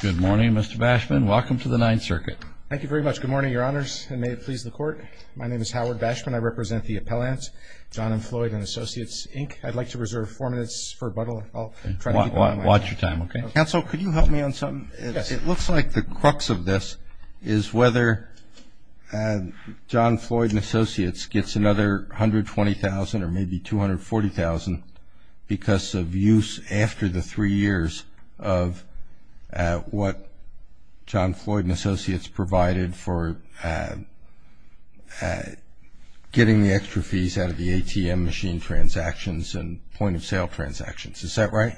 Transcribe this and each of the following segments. Good morning, Mr. Bashman. Welcome to the Ninth Circuit. Thank you very much. Good morning, Your Honors, and may it please the Court. My name is Howard Bashman. I represent the Appellants, John M. Floyd & Associates, Inc. I'd like to reserve four minutes for rebuttal. I'll try to keep it on my end. Watch your time, okay? Counsel, could you help me on something? Yes. It looks like the crux of this is whether John Floyd & Associates gets another $120,000 or maybe $240,000 because of use after the three years of what John Floyd & Associates provided for getting the extra fees out of the ATM machine transactions and point-of-sale transactions. Is that right?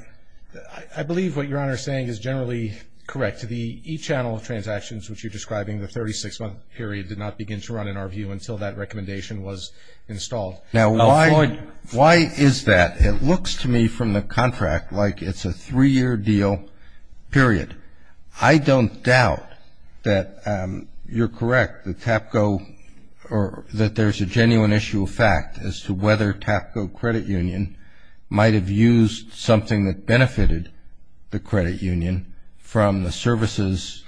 I believe what Your Honor is saying is generally correct. The e-channel transactions, which you're describing, the 36-month period, did not begin to run, in our view, until that recommendation was installed. Now, why is that? It looks to me from the contract like it's a three-year deal, period. I don't doubt that you're correct, that TAPCO or that there's a genuine issue of fact as to whether TAPCO Credit Union might have used something that benefited the credit union from the services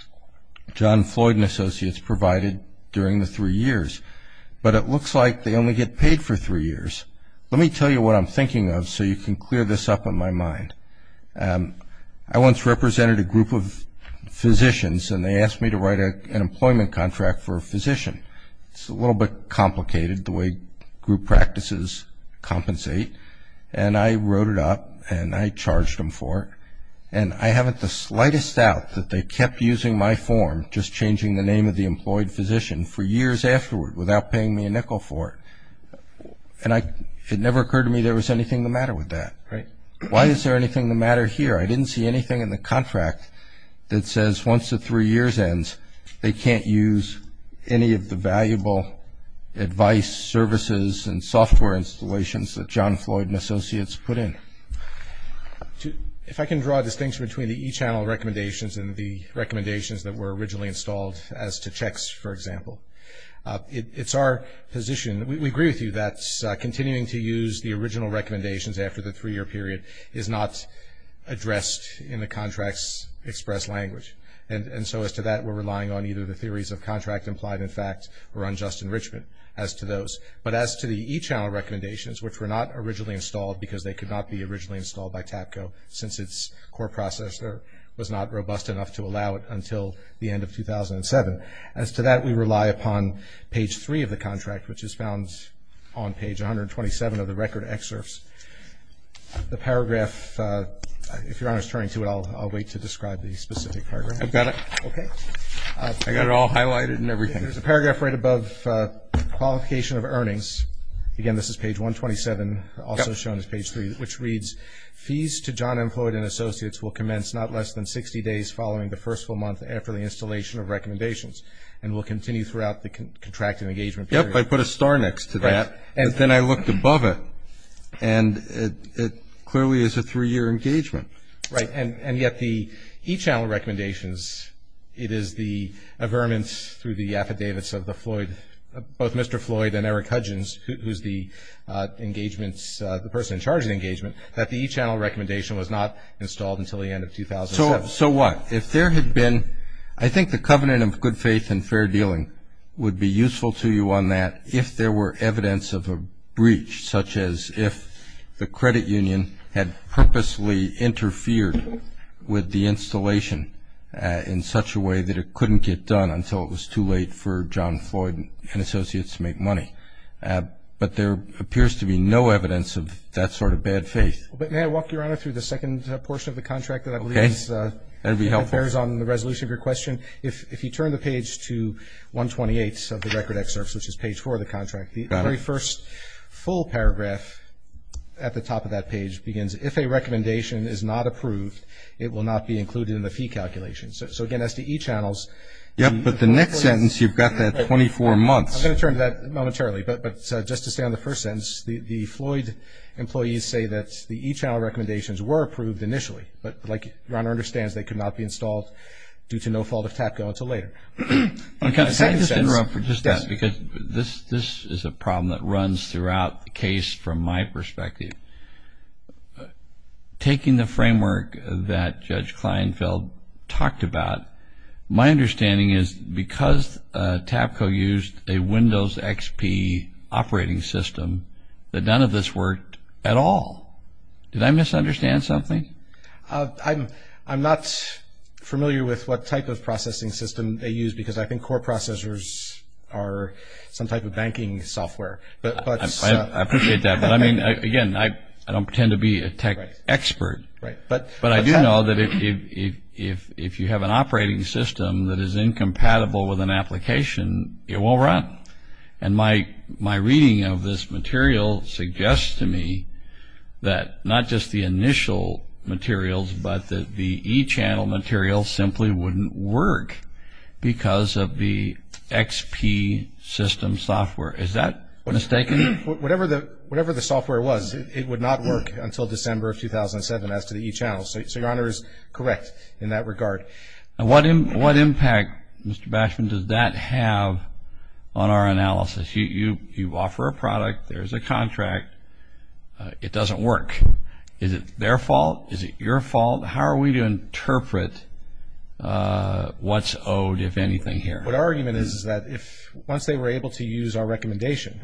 John Floyd & Associates provided during the three years. But it looks like they only get paid for three years. Let me tell you what I'm thinking of so you can clear this up in my mind. I once represented a group of physicians and they asked me to write an employment contract for a physician. It's a little bit complicated, the way group practices compensate. And I wrote it up and I charged them for it. And I haven't the slightest doubt that they kept using my form, just changing the name of the employed physician, for years afterward without paying me a nickel for it. And it never occurred to me there was anything the matter with that. Why is there anything the matter here? I didn't see anything in the contract that says once the three years ends, they can't use any of the valuable advice, services, and software installations that John Floyd & Associates put in. If I can draw a distinction between the e-channel recommendations and the recommendations that were originally installed as to checks, for example. It's our position, we agree with you that continuing to use the original recommendations after the three-year period is not addressed in the contract's express language. And so as to that, we're relying on either the theories of contract implied in fact or unjust enrichment as to those. But as to the e-channel recommendations, which were not originally installed because they could not be originally installed by the end of 2007. As to that, we rely upon page three of the contract, which is found on page 127 of the record excerpts. The paragraph, if Your Honor is turning to it, I'll wait to describe the specific paragraph. I've got it. Okay. I've got it all highlighted and everything. There's a paragraph right above qualification of earnings. Again, this is page 127, also shown as page three, which reads, fees to John Floyd & Associates will the installation of recommendations and will continue throughout the contracted engagement period. Yep, I put a star next to that. And then I looked above it and it clearly is a three-year engagement. Right. And yet the e-channel recommendations, it is the averments through the affidavits of the Floyd, both Mr. Floyd and Eric Hudgens, who's the engagements, the person in charge of the engagement, that the e-channel recommendation was not installed until the end of 2007. So what? If there had been, I think the covenant of good faith and fair dealing would be useful to you on that if there were evidence of a breach, such as if the credit union had purposely interfered with the installation in such a way that it couldn't get done until it was too late for John Floyd & Associates to make money. But there appears to be no evidence of that sort of bad faith. But may I walk Your Honor through the second portion of the contract that I believe bears on the resolution of your question? If you turn the page to 128 of the record excerpts, which is page four of the contract, the very first full paragraph at the top of that page begins, if a recommendation is not approved, it will not be included in the fee calculation. So again, as to e-channels. Yep, but the next sentence, you've got that 24 months. I'm going to turn to that momentarily. But just to stay on the first sentence, the Floyd employees say that the e-channel recommendations were approved initially, but like Your Honor understands, they could not be installed due to no fault of TAPCO until later. Can I just interrupt for just that? Because this is a problem that runs throughout the case from my perspective. Taking the framework that Judge Kleinfeld talked about, my understanding is because TAPCO used a Windows XP operating system, that none of this worked at all. Did I misunderstand something? I'm not familiar with what type of processing system they used, because I think core processors are some type of banking software. I appreciate that, but I mean, again, I don't pretend to be a tech expert, but I do know that if you have an operating system that is incompatible with an application, it won't run. And my reading of this material suggests to me that not just the initial materials, but that the e-channel material simply wouldn't work because of the XP system software. Is that mistaken? Whatever the software was, it would not work until December of 2007 as to the e-channel. So Your Honor is correct in that regard. What impact, Mr. Bashman, does that have on our analysis? You offer a product, there's a contract, it doesn't work. Is it their fault? Is it your fault? How are we to interpret what's owed, if anything, here? What our argument is is that once they were able to use our recommendation,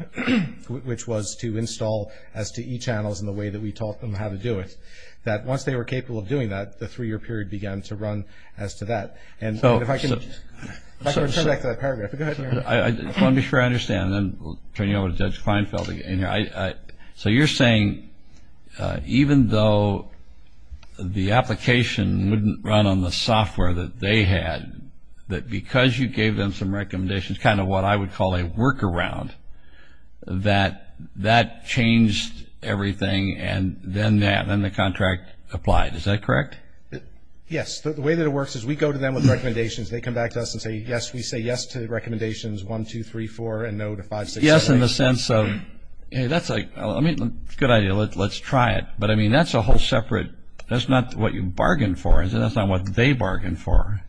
which was to install STE channels in the way that we taught them how to do it, that once they were able to use our recommendation, that was a great step forward as to that. So if I could return back to that paragraph. Go ahead, Your Honor. I want to be sure I understand, then we'll turn you over to Judge Feinfeld again. So you're saying even though the application wouldn't run on the software that they had, that because you gave them some recommendations, kind of what I would call a workaround, that that changed everything and then the contract applied. Is that correct? Yes. The way that it works is we go to them with recommendations, they come back to us and say, yes, we say yes to the recommendations, one, two, three, four, and no to five, six, seven, eight. Yes, in the sense of, hey, that's a good idea, let's try it. But I mean, that's a whole separate – that's not what you bargained for, is it? That's not what they bargained for.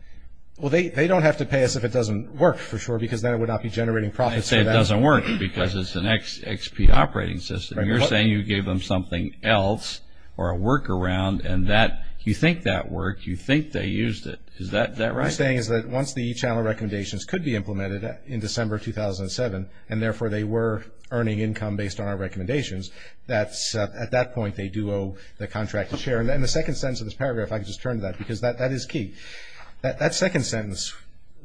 Well, they don't have to pay us if it doesn't work, for sure, because then it would not be generating profits for them. I say it doesn't work because it's an XP operating system. You're saying you gave them something else or a workaround and that – you think that worked, you think they used it. Is that right? What I'm saying is that once the e-channel recommendations could be implemented in December 2007 and therefore they were earning income based on our recommendations, that's – at that point they do owe the contract to share. And the second sentence of this paragraph, if I could just turn to that, because that is key. That second sentence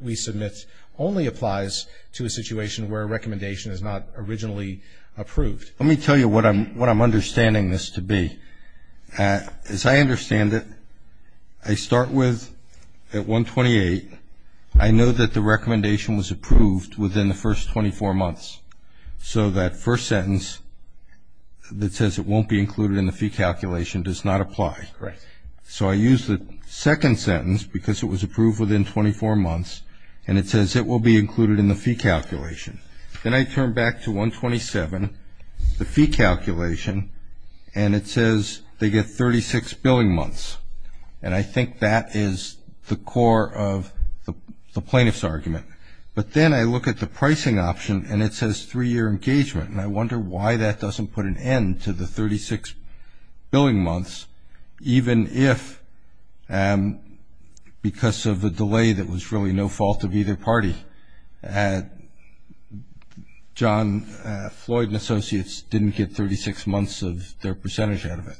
we submit only applies to a situation where a recommendation is not originally approved. Let me tell you what I'm understanding this to be. As I understand it, I start with at 128, I know that the recommendation was approved within the first 24 months. So that first sentence that says it won't be included in the fee calculation does not apply. Right. So I use the second sentence because it was approved within 24 months and it says it will be included in the fee calculation. Then I turn back to 127, the fee calculation, and it says they get 36 billing months. And I think that is the core of the plaintiff's argument. But then I look at the pricing option and it says three-year engagement. And I wonder why that doesn't put an end to the 36 billing months even if because of the delay that was really no fault of either party. John Floyd and Associates didn't get 36 months of their percentage out of it.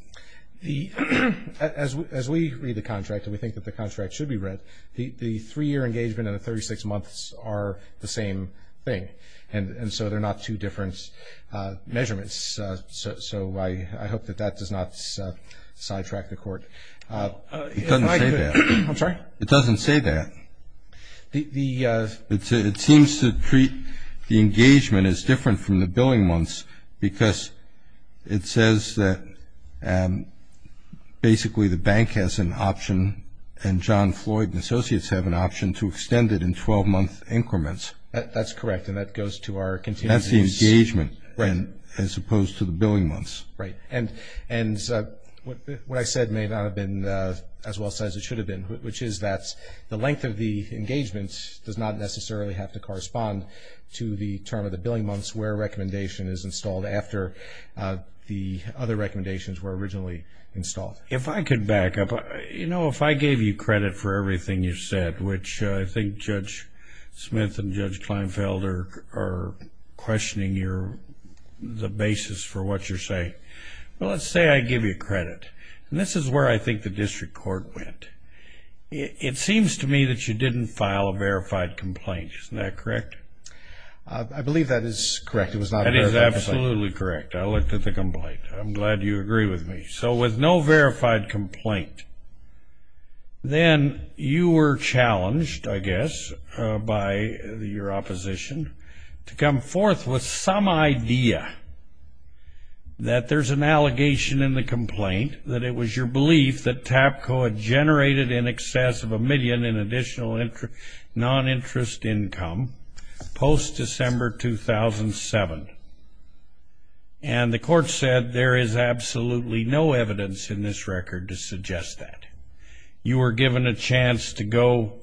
As we read the contract and we think that the contract should be read, the three-year engagement and the 36 months are the same thing. And so they're not two different measurements. So I hope that that does not sidetrack the Court. It doesn't say that. I'm sorry? It doesn't say that. It seems to treat the engagement as different from the billing months because it says that basically the bank has an option and John Floyd and Associates have an option to extend it in 12-month increments. That's correct and that goes to our contingencies. That's the engagement as opposed to the billing months. Right. And what I said may not have been as well said as it should have been, which is that the length of the engagement does not necessarily have to correspond to the term of the billing months where a recommendation is installed after the other recommendations were originally installed. If I could back up. You know, if I gave you credit for everything you said, which I think Judge Smith and Judge Kleinfeld are questioning the basis for what you're saying. Well, let's say I give you credit and this is where I think the District Court went. It seems to me that you didn't file a verified complaint. Isn't that correct? I believe that is correct. It was not a verified complaint. That is absolutely correct. I looked at the complaint. I'm glad you agree with me. So with no verified complaint, then you were challenged, I guess, by your opposition to come forth with some idea that there's an allegation in the complaint that it was your belief that TAPCO had generated in excess of a million in additional non-interest income post-December 2007. And the court said there is absolutely no evidence in this record to suggest that. You were given a chance to go.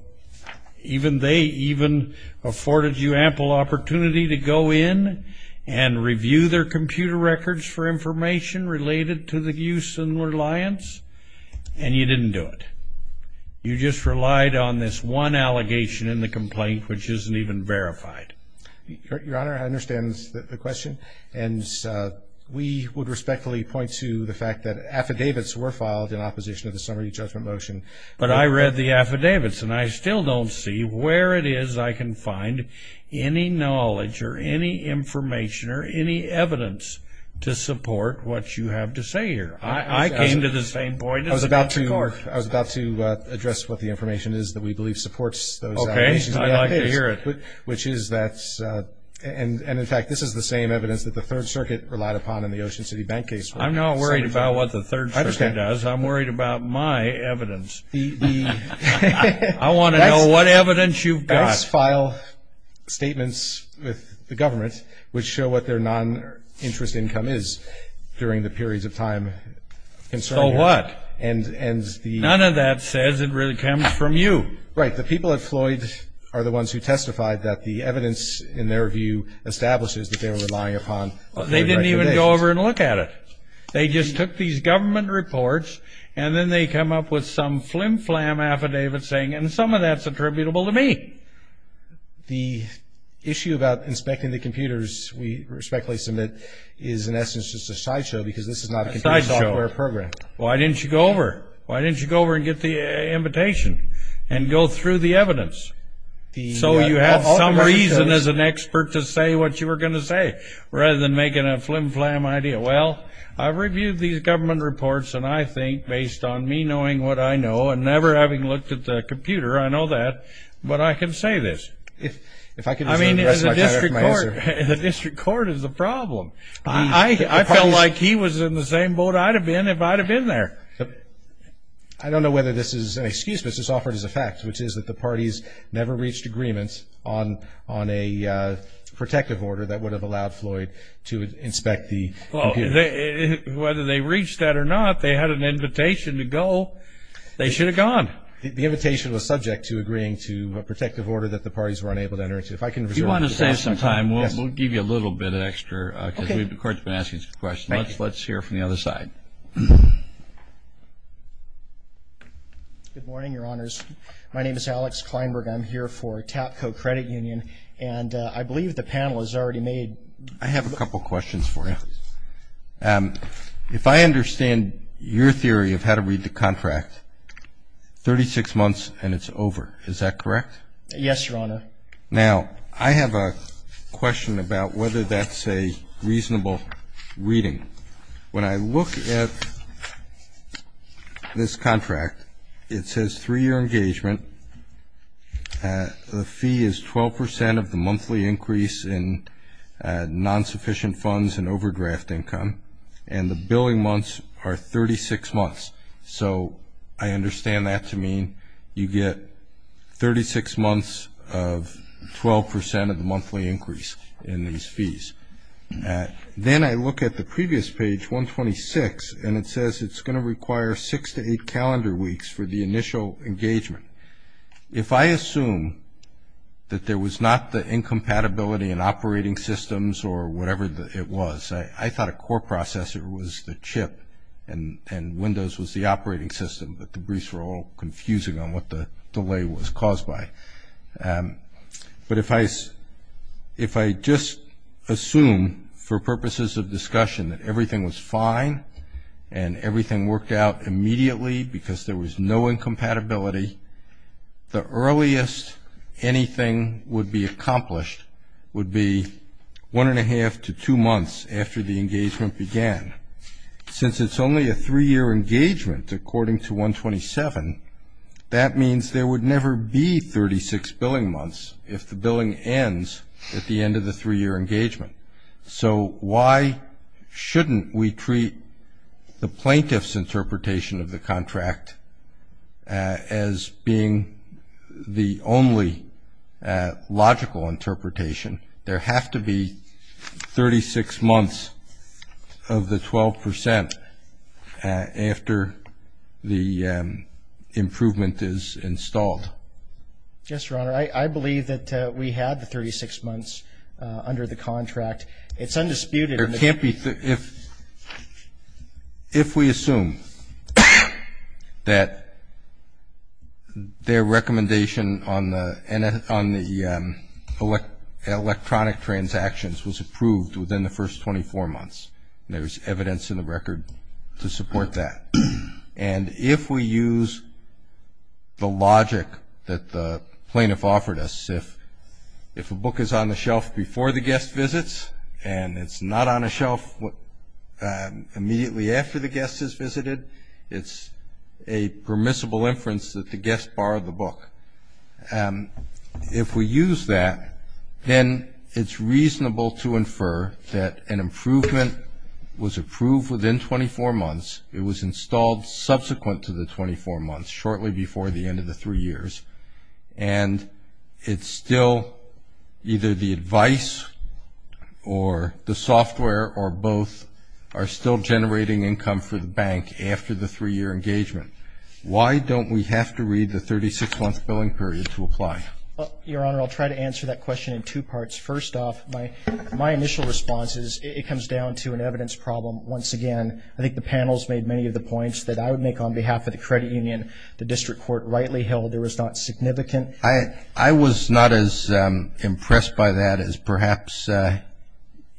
Even they even afforded you ample opportunity to go in and review their computer records for information related to the use and reliance. And you didn't do it. You just relied on this one allegation in the complaint, which isn't even verified. Your Honor, I understand the question. And we would respectfully point to the fact that affidavits were filed in opposition of the summary judgment motion. But I read the affidavits, and I still don't see where it is I can find any knowledge or any information or any evidence to support what you have to say here. I came to the same point as the court. I was about to address what the information is that we believe supports those allegations. Okay, I'd like to hear it. Which is that, and in fact, this is the same evidence that the Third Circuit relied upon in the Ocean City Bank case. I'm not worried about what the Third Circuit does. I'm worried about my evidence. I want to know what evidence you've got. ICE file statements with the government which show what their non-interest income is during the periods of time concerning it. So what? None of that says it really comes from you. Right. The people at Floyd are the ones who testified that the evidence, in their view, establishes that they were relying upon. They didn't even go over and look at it. They just took these government reports and then they come up with some flim-flam affidavit saying, and some of that's attributable to me. The issue about inspecting the computers we respectfully submit is, in essence, just a sideshow because this is not a computer software program. Why didn't you go over? Why didn't you go over and get the invitation and go through the evidence? So you have some reason as an expert to say what you were going to say rather than making a flim-flam idea. Well, I've reviewed these government reports and I think, based on me knowing what I know and never having looked at the computer, I know that, but I can say this. If I could address my time with my answer. The district court is the problem. I felt like he was in the same boat I'd have been if I'd have been there. I don't know whether this is an excuse, but it's just offered as a fact, which is that the parties never reached agreements on a protective order that would have allowed Floyd to inspect the computers. Well, whether they reached that or not, they had an invitation to go. They should have gone. The invitation was subject to agreeing to a protective order that the parties were unable to enter into. If I can reserve the time. If you want to save some time, we'll give you a little bit extra because the court's been asking some questions. Let's hear from the other side. Good morning, your honors. My name is Alex Kleinberg. I'm here for TAPCO Credit Union and I believe the panel has already made. I have a couple of questions for you. If I understand your theory of how to read the contract, 36 months and it's over, is that correct? Yes, your honor. Now, I have a question about whether that's a reasonable reading. When I look at this contract, it says three year engagement. The fee is 12% of the monthly increase in non-sufficient funds and overdraft income. And the billing months are 36 months. So, I understand that to mean you get 36 months of 12% of the monthly increase in these fees. Then I look at the previous page, 126, and it says it's going to require six to eight calendar weeks for the initial engagement. If I assume that there was not the incompatibility in operating systems or whatever it was, I thought a core processor was the chip and Windows was the operating system, but the briefs were all confusing on what the delay was caused by. But if I just assume for purposes of discussion that everything was fine and everything worked out immediately because there was no incompatibility, the earliest anything would be accomplished would be one and a half to two months after the engagement began. Since it's only a three year engagement, according to 127, that means there would never be 36 billing months if the billing ends at the end of the three year engagement. So, why shouldn't we treat the plaintiff's interpretation of the contract as being the only logical interpretation? There have to be 36 months of the 12% after the improvement is installed. Yes, Your Honor, I believe that we had the 36 months under the contract. It's undisputed. There can't be, if we assume that their recommendation on the, on the electronic transactions was approved within the first 24 months. There's evidence in the record to support that. And if we use the logic that the plaintiff offered us, if a book is on the shelf before the guest visits and it's not on a shelf immediately after the guest has visited, it's a permissible inference that the guest borrowed the book. If we use that, then it's reasonable to infer that an improvement was approved within 24 months. It was installed subsequent to the 24 months, shortly before the end of the three years. And it's still either the advice or the software or both are still generating income for the bank after the three year engagement. Why don't we have to read the 36 month billing period to apply? Your Honor, I'll try to answer that question in two parts. First off, my initial response is it comes down to an evidence problem. Once again, I think the panel's made many of the points that I would make on behalf of the credit union, the district court rightly held there was not significant. I was not as impressed by that as perhaps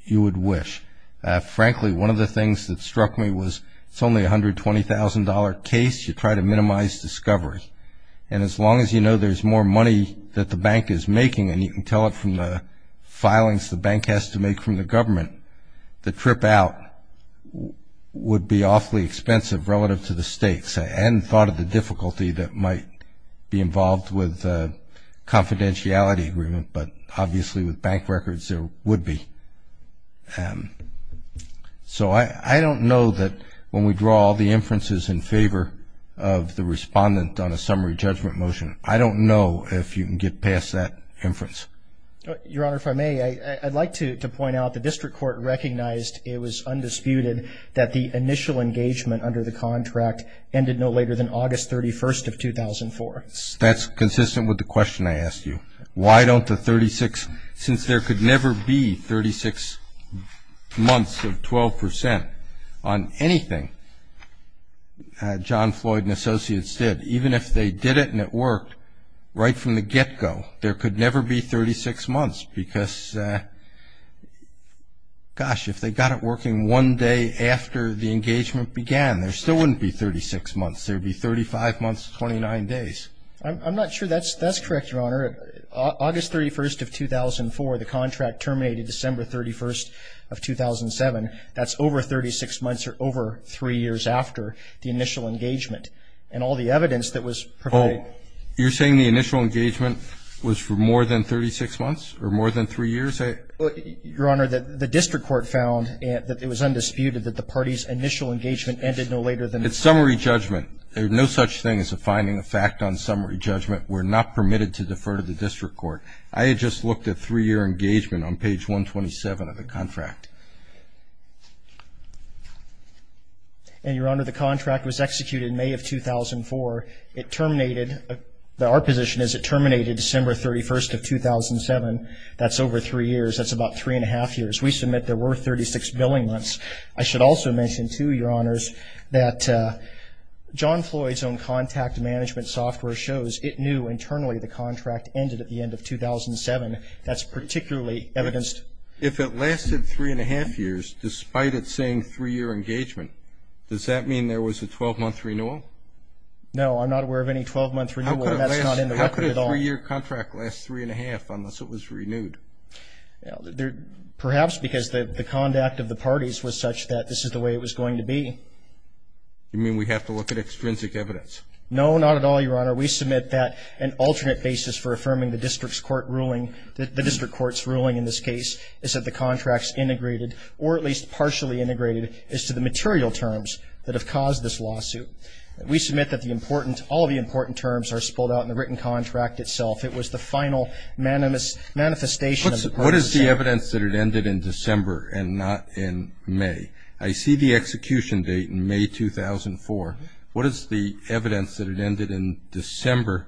you would wish. Frankly, one of the things that struck me was it's only a $120,000 case. You try to minimize discovery. And as long as you know there's more money that the bank is making, and you can tell it from the filings the bank has to make from the government, the trip out would be awfully expensive relative to the stakes. I hadn't thought of the difficulty that might be involved with confidentiality agreement, but obviously with bank records there would be. So I don't know that when we draw the inferences in favor of the respondent on a summary judgment motion, I don't know if you can get past that inference. Your Honor, if I may, I'd like to point out the district court recognized it was undisputed that the initial engagement under the contract ended no later than August 31st of 2004. That's consistent with the question I asked you. Why don't the 36, since there could never be 36 months of 12% on anything John Floyd and associates did, even if they did it and it worked right from the get-go, there could never be 36 months because, gosh, if they got it working one day after the engagement began, there still wouldn't be 36 months. There would be 35 months to 29 days. I'm not sure that's correct, Your Honor. August 31st of 2004, the contract terminated December 31st of 2007. That's over 36 months or over three years after the initial engagement. And all the evidence that was provided. You're saying the initial engagement was for more than 36 months or more than three years? Your Honor, the district court found that it was undisputed that the party's initial engagement ended no later than. It's summary judgment. There's no such thing as a finding of fact on summary judgment. We're not permitted to defer to the district court. I had just looked at three-year engagement on page 127 of the contract. And, Your Honor, the contract was executed in May of 2004. It terminated, our position is it terminated December 31st of 2007. That's over three years. That's about three and a half years. We submit there were 36 billing months. I should also mention, too, Your Honors, that John Floyd's own contact management software shows it knew internally the contract ended at the end of 2007. That's particularly evidenced. If it lasted three and a half years, despite it saying three-year engagement, does that mean there was a 12-month renewal? No, I'm not aware of any 12-month renewal. How could a three-year contract last three and a half unless it was renewed? Perhaps because the conduct of the parties was such that this is the way it was going to be. You mean we have to look at extrinsic evidence? No, not at all, Your Honor. We submit that an alternate basis for affirming the district court's ruling in this case is that the contract's integrated, or at least partially integrated, is to the material terms that have caused this lawsuit. We submit that all the important terms are spelled out in the written contract itself. It was the final manifestation of the court's decision. What is the evidence that it ended in December and not in May? I see the execution date in May 2004. What is the evidence that it ended in December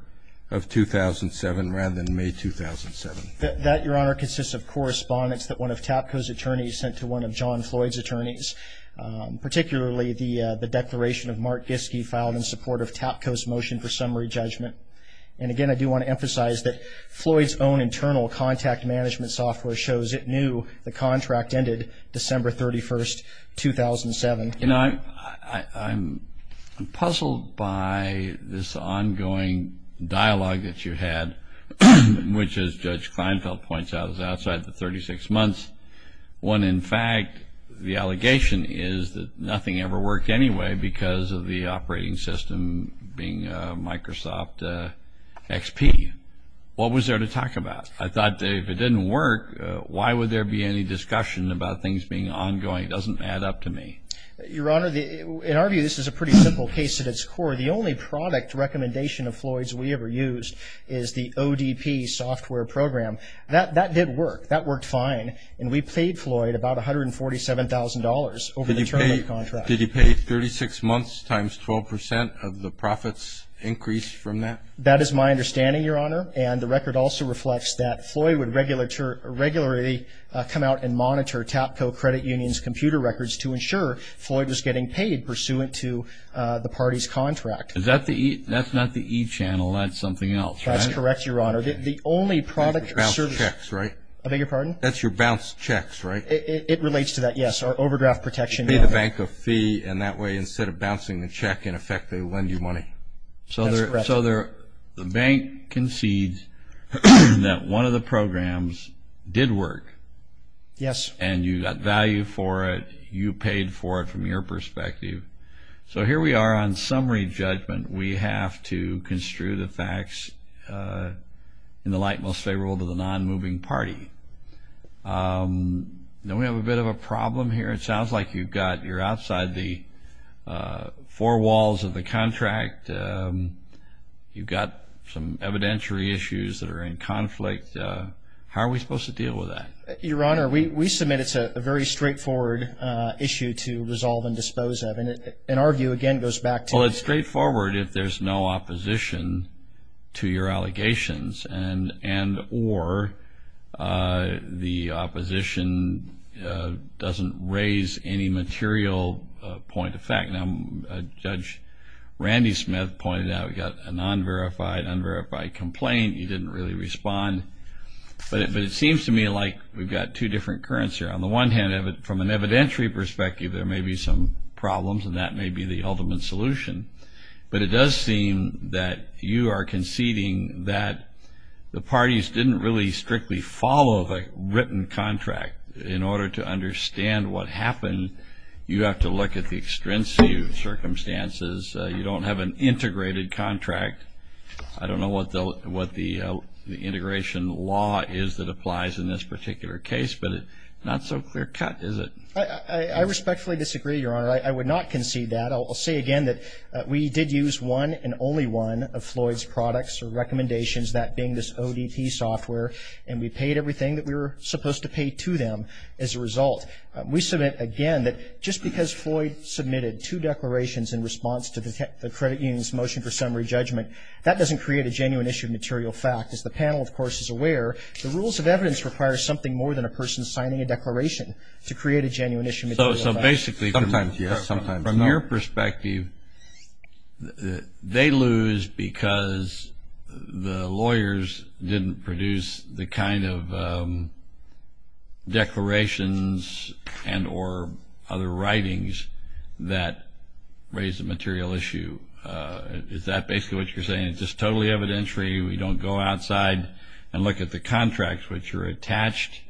of 2007 rather than May 2007? That, Your Honor, consists of correspondence that one of TAPCO's attorneys sent to one of John Floyd's attorneys, particularly the declaration of Mark Giske filed in support of TAPCO's motion for summary judgment. And again, I do want to emphasize that Floyd's own internal contact management software shows it knew the contract ended December 31st, 2007. You know, I'm puzzled by this ongoing dialogue that you had which, as Judge Kleinfeld points out, is outside the 36 months when, in fact, the allegation is that nothing ever worked anyway because of the operating system being Microsoft XP. What was there to talk about? I thought if it didn't work, why would there be any discussion about things being ongoing? It doesn't add up to me. Your Honor, in our view, this is a pretty simple case at its core. The only product recommendation of Floyd's we ever used is the ODP software program. That did work. That worked fine. And we paid Floyd about $147,000 over the term of the contract. Did he pay 36 months times 12% of the profits increased from that? That is my understanding, Your Honor. And the record also reflects that Floyd would regularly come out and monitor TAPCO Credit Union's computer records to ensure Floyd was getting paid pursuant to the party's contract. Is that the E? That's not the E channel. That's something else, right? That's correct, Your Honor. The only product service That's your bounced checks, right? I beg your pardon? That's your bounced checks, right? It relates to that, yes. Our overdraft protection. You pay the bank a fee, and that way, instead of bouncing the check, in effect, they lend you money. That's correct. So the bank concedes that one of the programs did work. Yes. And you got value for it. You paid for it from your perspective. So here we are on summary judgment. We have to construe the facts in the light most favorable to the non-moving party. Now, we have a bit of a problem here. It sounds like you're outside the four walls of the contract. You've got some evidentiary issues that are in conflict. How are we supposed to deal with that? Your Honor, we submit it's a very straightforward issue to resolve and dispose of. And our view, again, goes back to the- Well, it's straightforward if there's no opposition to your allegations, and or the opposition doesn't raise any material point of fact. Now, Judge Randy Smith pointed out we got a non-verified, unverified complaint. He didn't really respond. But it seems to me like we've got two different currents here. On the one hand, from an evidentiary perspective, there may be some problems, and that may be the ultimate solution. But it does seem that you are conceding that the parties didn't really strictly follow the written contract in order to understand what happened. You have to look at the extrinsic circumstances. You don't have an integrated contract. I don't know what the integration law is that applies in this particular case, but not so clear cut, is it? I respectfully disagree, Your Honor. I would not concede that. I'll say again that we did use one and only one of Floyd's products or recommendations, that being this ODP software. And we paid everything that we were supposed to pay to them as a result. We submit, again, that just because Floyd submitted two declarations in response to the credit union's motion for summary judgment, that doesn't create a genuine issue of material fact. As the panel, of course, is aware, the rules of evidence require something more than a person signing a declaration to create a genuine issue of material fact. So basically, from your perspective, they lose because the lawyers didn't produce the kind of declarations and or other writings that raise a material issue. Is that basically what you're saying? It's just totally evidentiary. We don't go outside and look at the contracts which are attached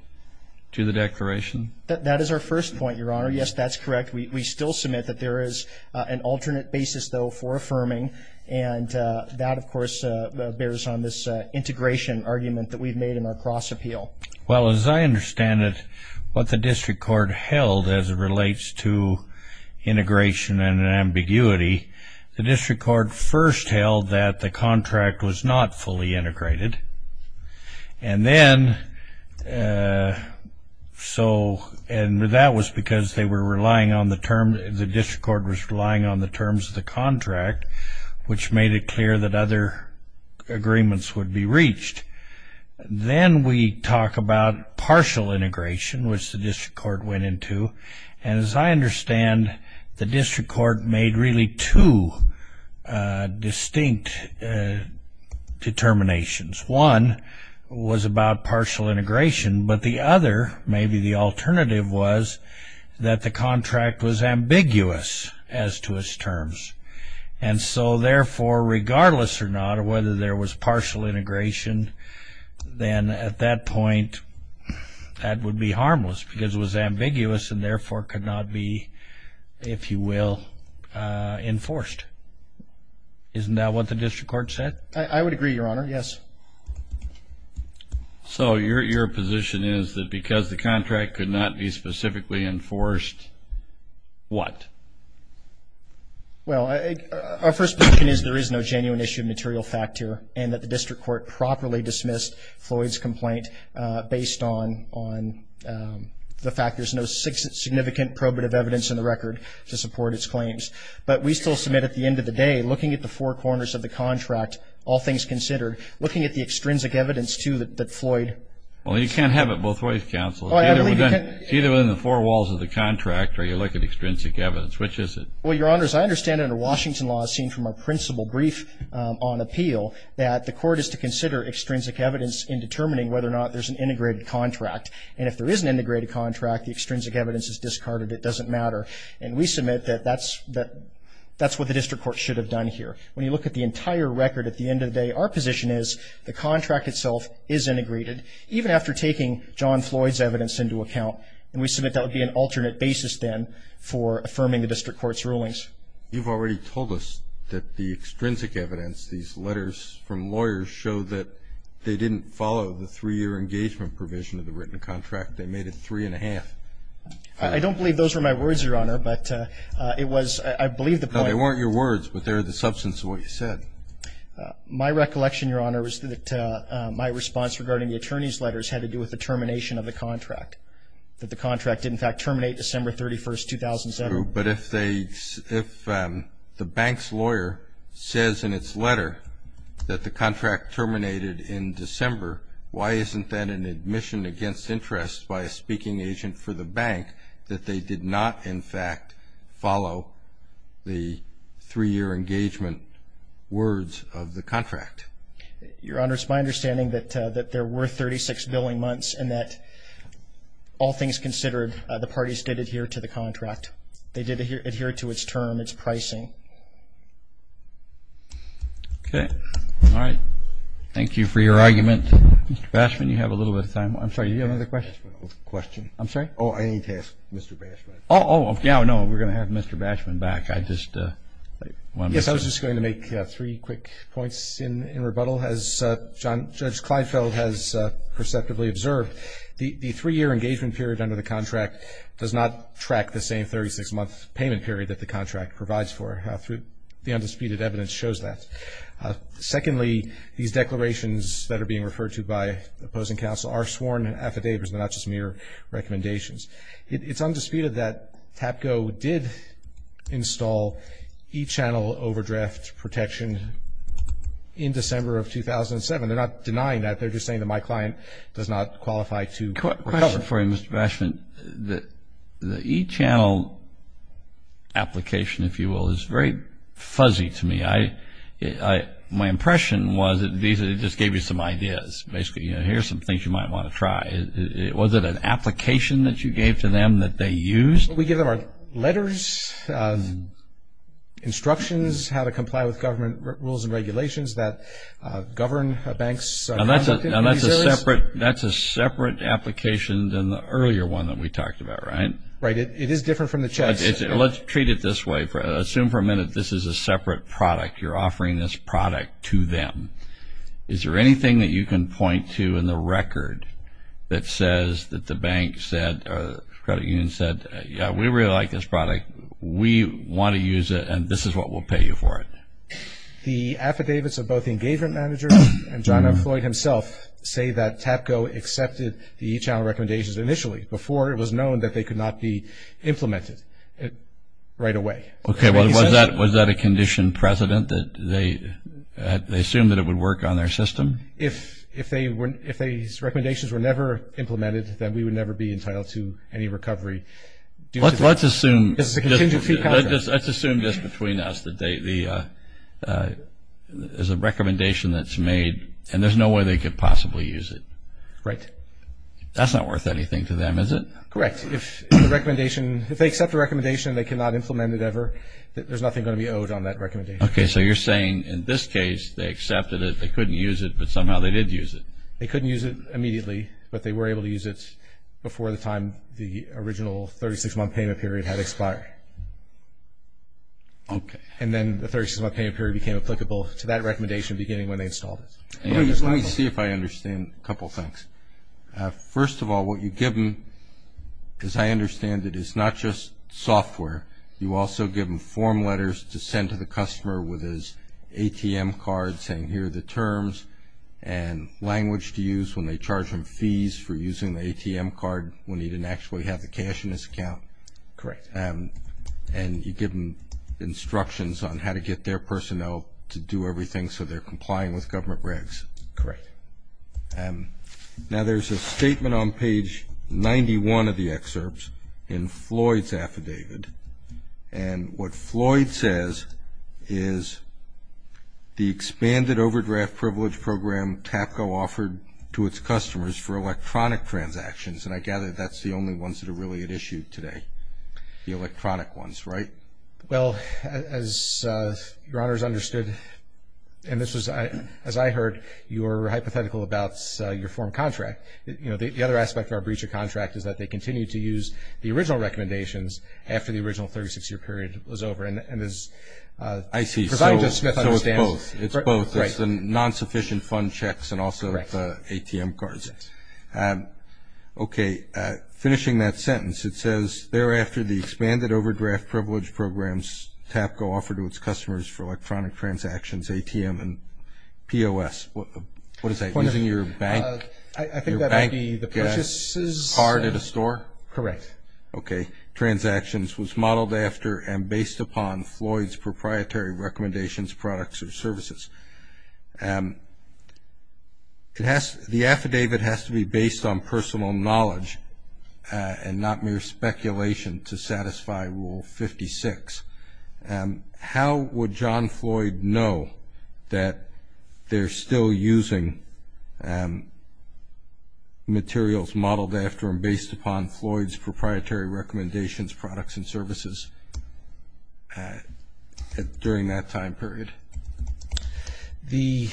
to the declaration? That is our first point, Your Honor. Yes, that's correct. We still submit that there is an alternate basis, though, for affirming. And that, of course, bears on this integration argument that we've made in our cross-appeal. Well, as I understand it, what the district court held as it relates to integration and ambiguity, the district court first held that the contract was not fully integrated. And that was because the district court was relying on the terms of the contract, which made it clear that other agreements would be reached. Then we talk about partial integration, which the district court went into. And as I understand, the district court made really two distinct determinations. One was about partial integration, but the other, maybe the alternative, was that the contract was ambiguous as to its terms. And so, therefore, regardless or not of whether there was partial integration, then at that point, that would be harmless because it was ambiguous and therefore could not be, if you will, enforced. Isn't that what the district court said? I would agree, Your Honor. Yes. So, your position is that because the contract could not be specifically enforced, what? Well, our first position is there is no genuine issue of material fact here and that the district court properly dismissed Floyd's complaint based on the fact there's no significant probative evidence in the record to support its claims. But we still submit at the end of the day, looking at the four corners of the contract, all things considered, looking at the extrinsic evidence, too, that Floyd. Well, you can't have it both ways, counsel. It's either within the four walls of the contract or you look at extrinsic evidence. Which is it? Well, Your Honors, I understand under Washington law, as seen from our principal brief on appeal, that the court is to consider extrinsic evidence in determining whether or not there's an integrated contract. And if there is an integrated contract, the extrinsic evidence is discarded. It doesn't matter. And we submit that that's what the district court should have done here. When you look at the entire record at the end of the day, our position is the contract itself is integrated even after taking John Floyd's evidence into account, and we submit that would be an alternate basis then for affirming the district court's rulings. You've already told us that the extrinsic evidence, these letters from lawyers show that they didn't follow the three-year engagement provision of the written contract. They made it three and a half. I don't believe those were my words, Your Honor, but it was, I believe the point. They weren't your words, but they're the substance of what you said. My recollection, Your Honor, is that my response regarding the attorney's letters had to do with the termination of the contract, that the contract did in fact terminate December 31st, 2007. But if the bank's lawyer says in its letter that the contract terminated in December, why isn't that an admission against interest by a speaking agent for the bank that they did not in fact follow the three-year engagement words of the contract? Your Honor, it's my understanding that there were 36 billing months and that all things considered, the parties did adhere to the contract. They did adhere to its term, its pricing. Okay. All right. Thank you for your argument. Mr. Bashman, you have a little bit of time. I'm sorry, do you have another question? Question. I'm sorry? Oh, I need to ask Mr. Bashman. Oh, yeah, no, we're going to have Mr. Bashman back. I just want to make sure. Yes, I was just going to make three quick points in rebuttal. As Judge Kleinfeld has perceptively observed, the three-year engagement period under the contract does not track the same 36-month payment period that the contract provides for, the undisputed evidence shows that. Secondly, these declarations that are being referred to by opposing counsel are sworn affidavits, they're not just mere recommendations. It's undisputed that TAPCO did install e-channel overdraft protection in December of 2007. They're not denying that. They're just saying that my client does not qualify to recover. Quick question for you, Mr. Bashman. The e-channel application, if you will, is very fuzzy to me. My impression was that Visa just gave you some ideas. Basically, here's some things you might want to try. Was it an application that you gave to them that they used? We give them our letters, instructions, how to comply with government rules and regulations that govern banks' conduct in these areas. That's a separate application than the earlier one that we talked about, right? Right. It is different from the checks. Let's treat it this way. Assume for a minute this is a separate product. You're offering this product to them. Is there anything that you can point to in the record that says that the bank said or the credit union said, yeah, we really like this product. We want to use it and this is what will pay you for it. The affidavits of both the engagement manager and John F. Floyd himself say that TAPCO accepted the e-channel recommendations initially before it was known that they could not be implemented right away. Okay. Was that a condition precedent that they assumed that it would work on their system? If these recommendations were never implemented, then we would never be entitled to any recovery. Let's assume this between us that there's a recommendation that's made and there's no way they could possibly use it. Right. That's not worth anything to them, is it? Correct. If they accept a recommendation and they cannot implement it ever, there's nothing going to be owed on that recommendation. Okay. So you're saying in this case, they accepted it, they couldn't use it, but somehow they did use it. They couldn't use it immediately, but they were able to use it before the time the original 36-month payment period had expired. Okay. And then the 36-month payment period became applicable to that recommendation beginning when they installed it. Let me see if I understand a couple things. First of all, what you give them, as I understand it, is not just software. You also give them form letters to send to the customer with his ATM card saying, here are the terms and language to use when they charge him fees for using the ATM card when he didn't actually have the cash in his account. Correct. And you give them instructions on how to get their personnel to do everything so they're complying with government regs. Correct. Now, there's a statement on page 91 of the excerpts in Floyd's affidavit, and what Floyd says is the expanded overdraft privilege program TAPCO offered to its customers for electronic transactions, and I gather that's the only ones that are really at issue today, the electronic ones, right? Well, as Your Honors understood, and this was, as I heard, you were hypothetical about your form contract. You know, the other aspect of our breach of contract is that they continue to use the original recommendations after the original 36-year period was over. And as Professor Smith understands. I see. So it's both. It's both. Right. It's the non-sufficient fund checks and also the ATM cards. Yes. Okay, finishing that sentence. It says, thereafter, the expanded overdraft privilege programs TAPCO offered to its customers for electronic transactions, ATM, and POS. What is that, using your bank card at a store? Correct. Okay. Transactions was modeled after and based upon Floyd's proprietary recommendations, products, or services. The affidavit has to be based on personal knowledge and not mere speculation to satisfy Rule 56. How would John Floyd know that they're still using materials modeled after and based upon Floyd's proprietary recommendations, products, and services during that time period? The,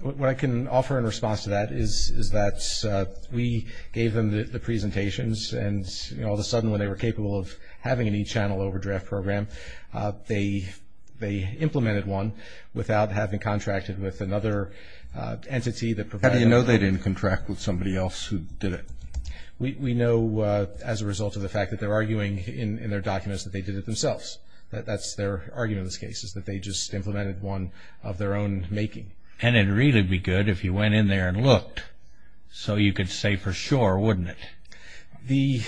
what I can offer in response to that is that we gave them the presentations. And, you know, all of a sudden, when they were capable of having an e-channel overdraft program, they implemented one without having contracted with another entity that provided. How do you know they didn't contract with somebody else who did it? We know as a result of the fact that they're arguing in their documents that they did it themselves. That's their argument in this case, is that they just implemented one of their own making. And, it'd really be good if you went in there and looked, so you could say for sure, wouldn't it? The,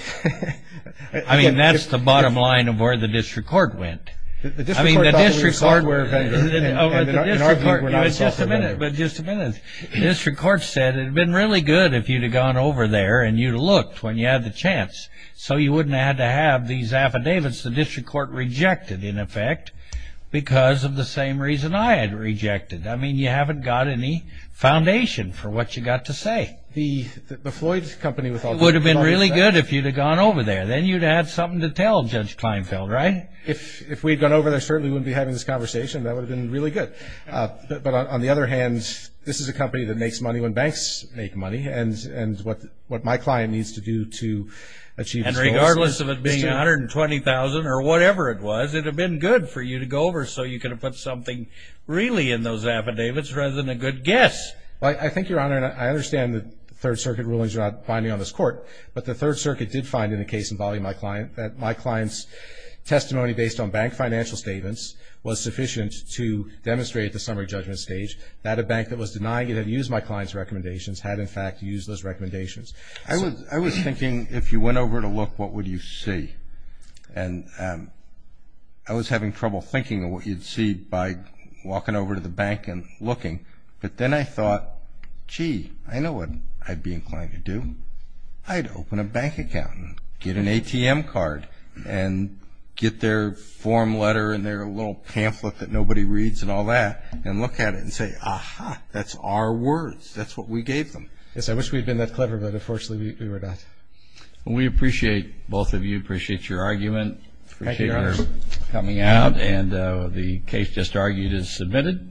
I mean, that's the bottom line of where the district court went. I mean, the district court, the district court, you know, it's just a minute, but just a minute. District court said it'd been really good if you'd have gone over there and you'd have looked when you had the chance. So, you wouldn't have to have these affidavits. The district court rejected, in effect, because of the same reason I had rejected. I mean, you haven't got any foundation for what you got to say. The, the Floyd's company with all the. It would have been really good if you'd have gone over there. Then, you'd have something to tell Judge Kleinfeld, right? If, if we'd gone over there, certainly we wouldn't be having this conversation. That would have been really good. But, but on the other hand, this is a company that makes money when banks make money. And, and what, what my client needs to do to achieve. And regardless of it being $120,000 or whatever it was, it would have been good for you to go over so you could have put something really in those affidavits rather than a good guess. Well, I think, Your Honor, and I understand that the Third Circuit rulings are not binding on this court, but the Third Circuit did find in the case involving my client that my client's testimony based on bank financial statements was sufficient to demonstrate at the summary judgment stage that a bank that was denying it and used my client's recommendations had, in fact, used those recommendations. I was, I was thinking, if you went over to look, what would you see? And I was having trouble thinking of what you'd see by walking over to the bank and looking. But then I thought, gee, I know what I'd be inclined to do. I'd open a bank account and get an ATM card and get their form letter and their little pamphlet that nobody reads and all that and look at it and say, aha, that's our words. That's what we gave them. Yes, I wish we'd been that clever, but unfortunately, we were not. We appreciate, both of you, appreciate your argument. Thank you, Your Honor. Appreciate your coming out, and the case just argued is submitted.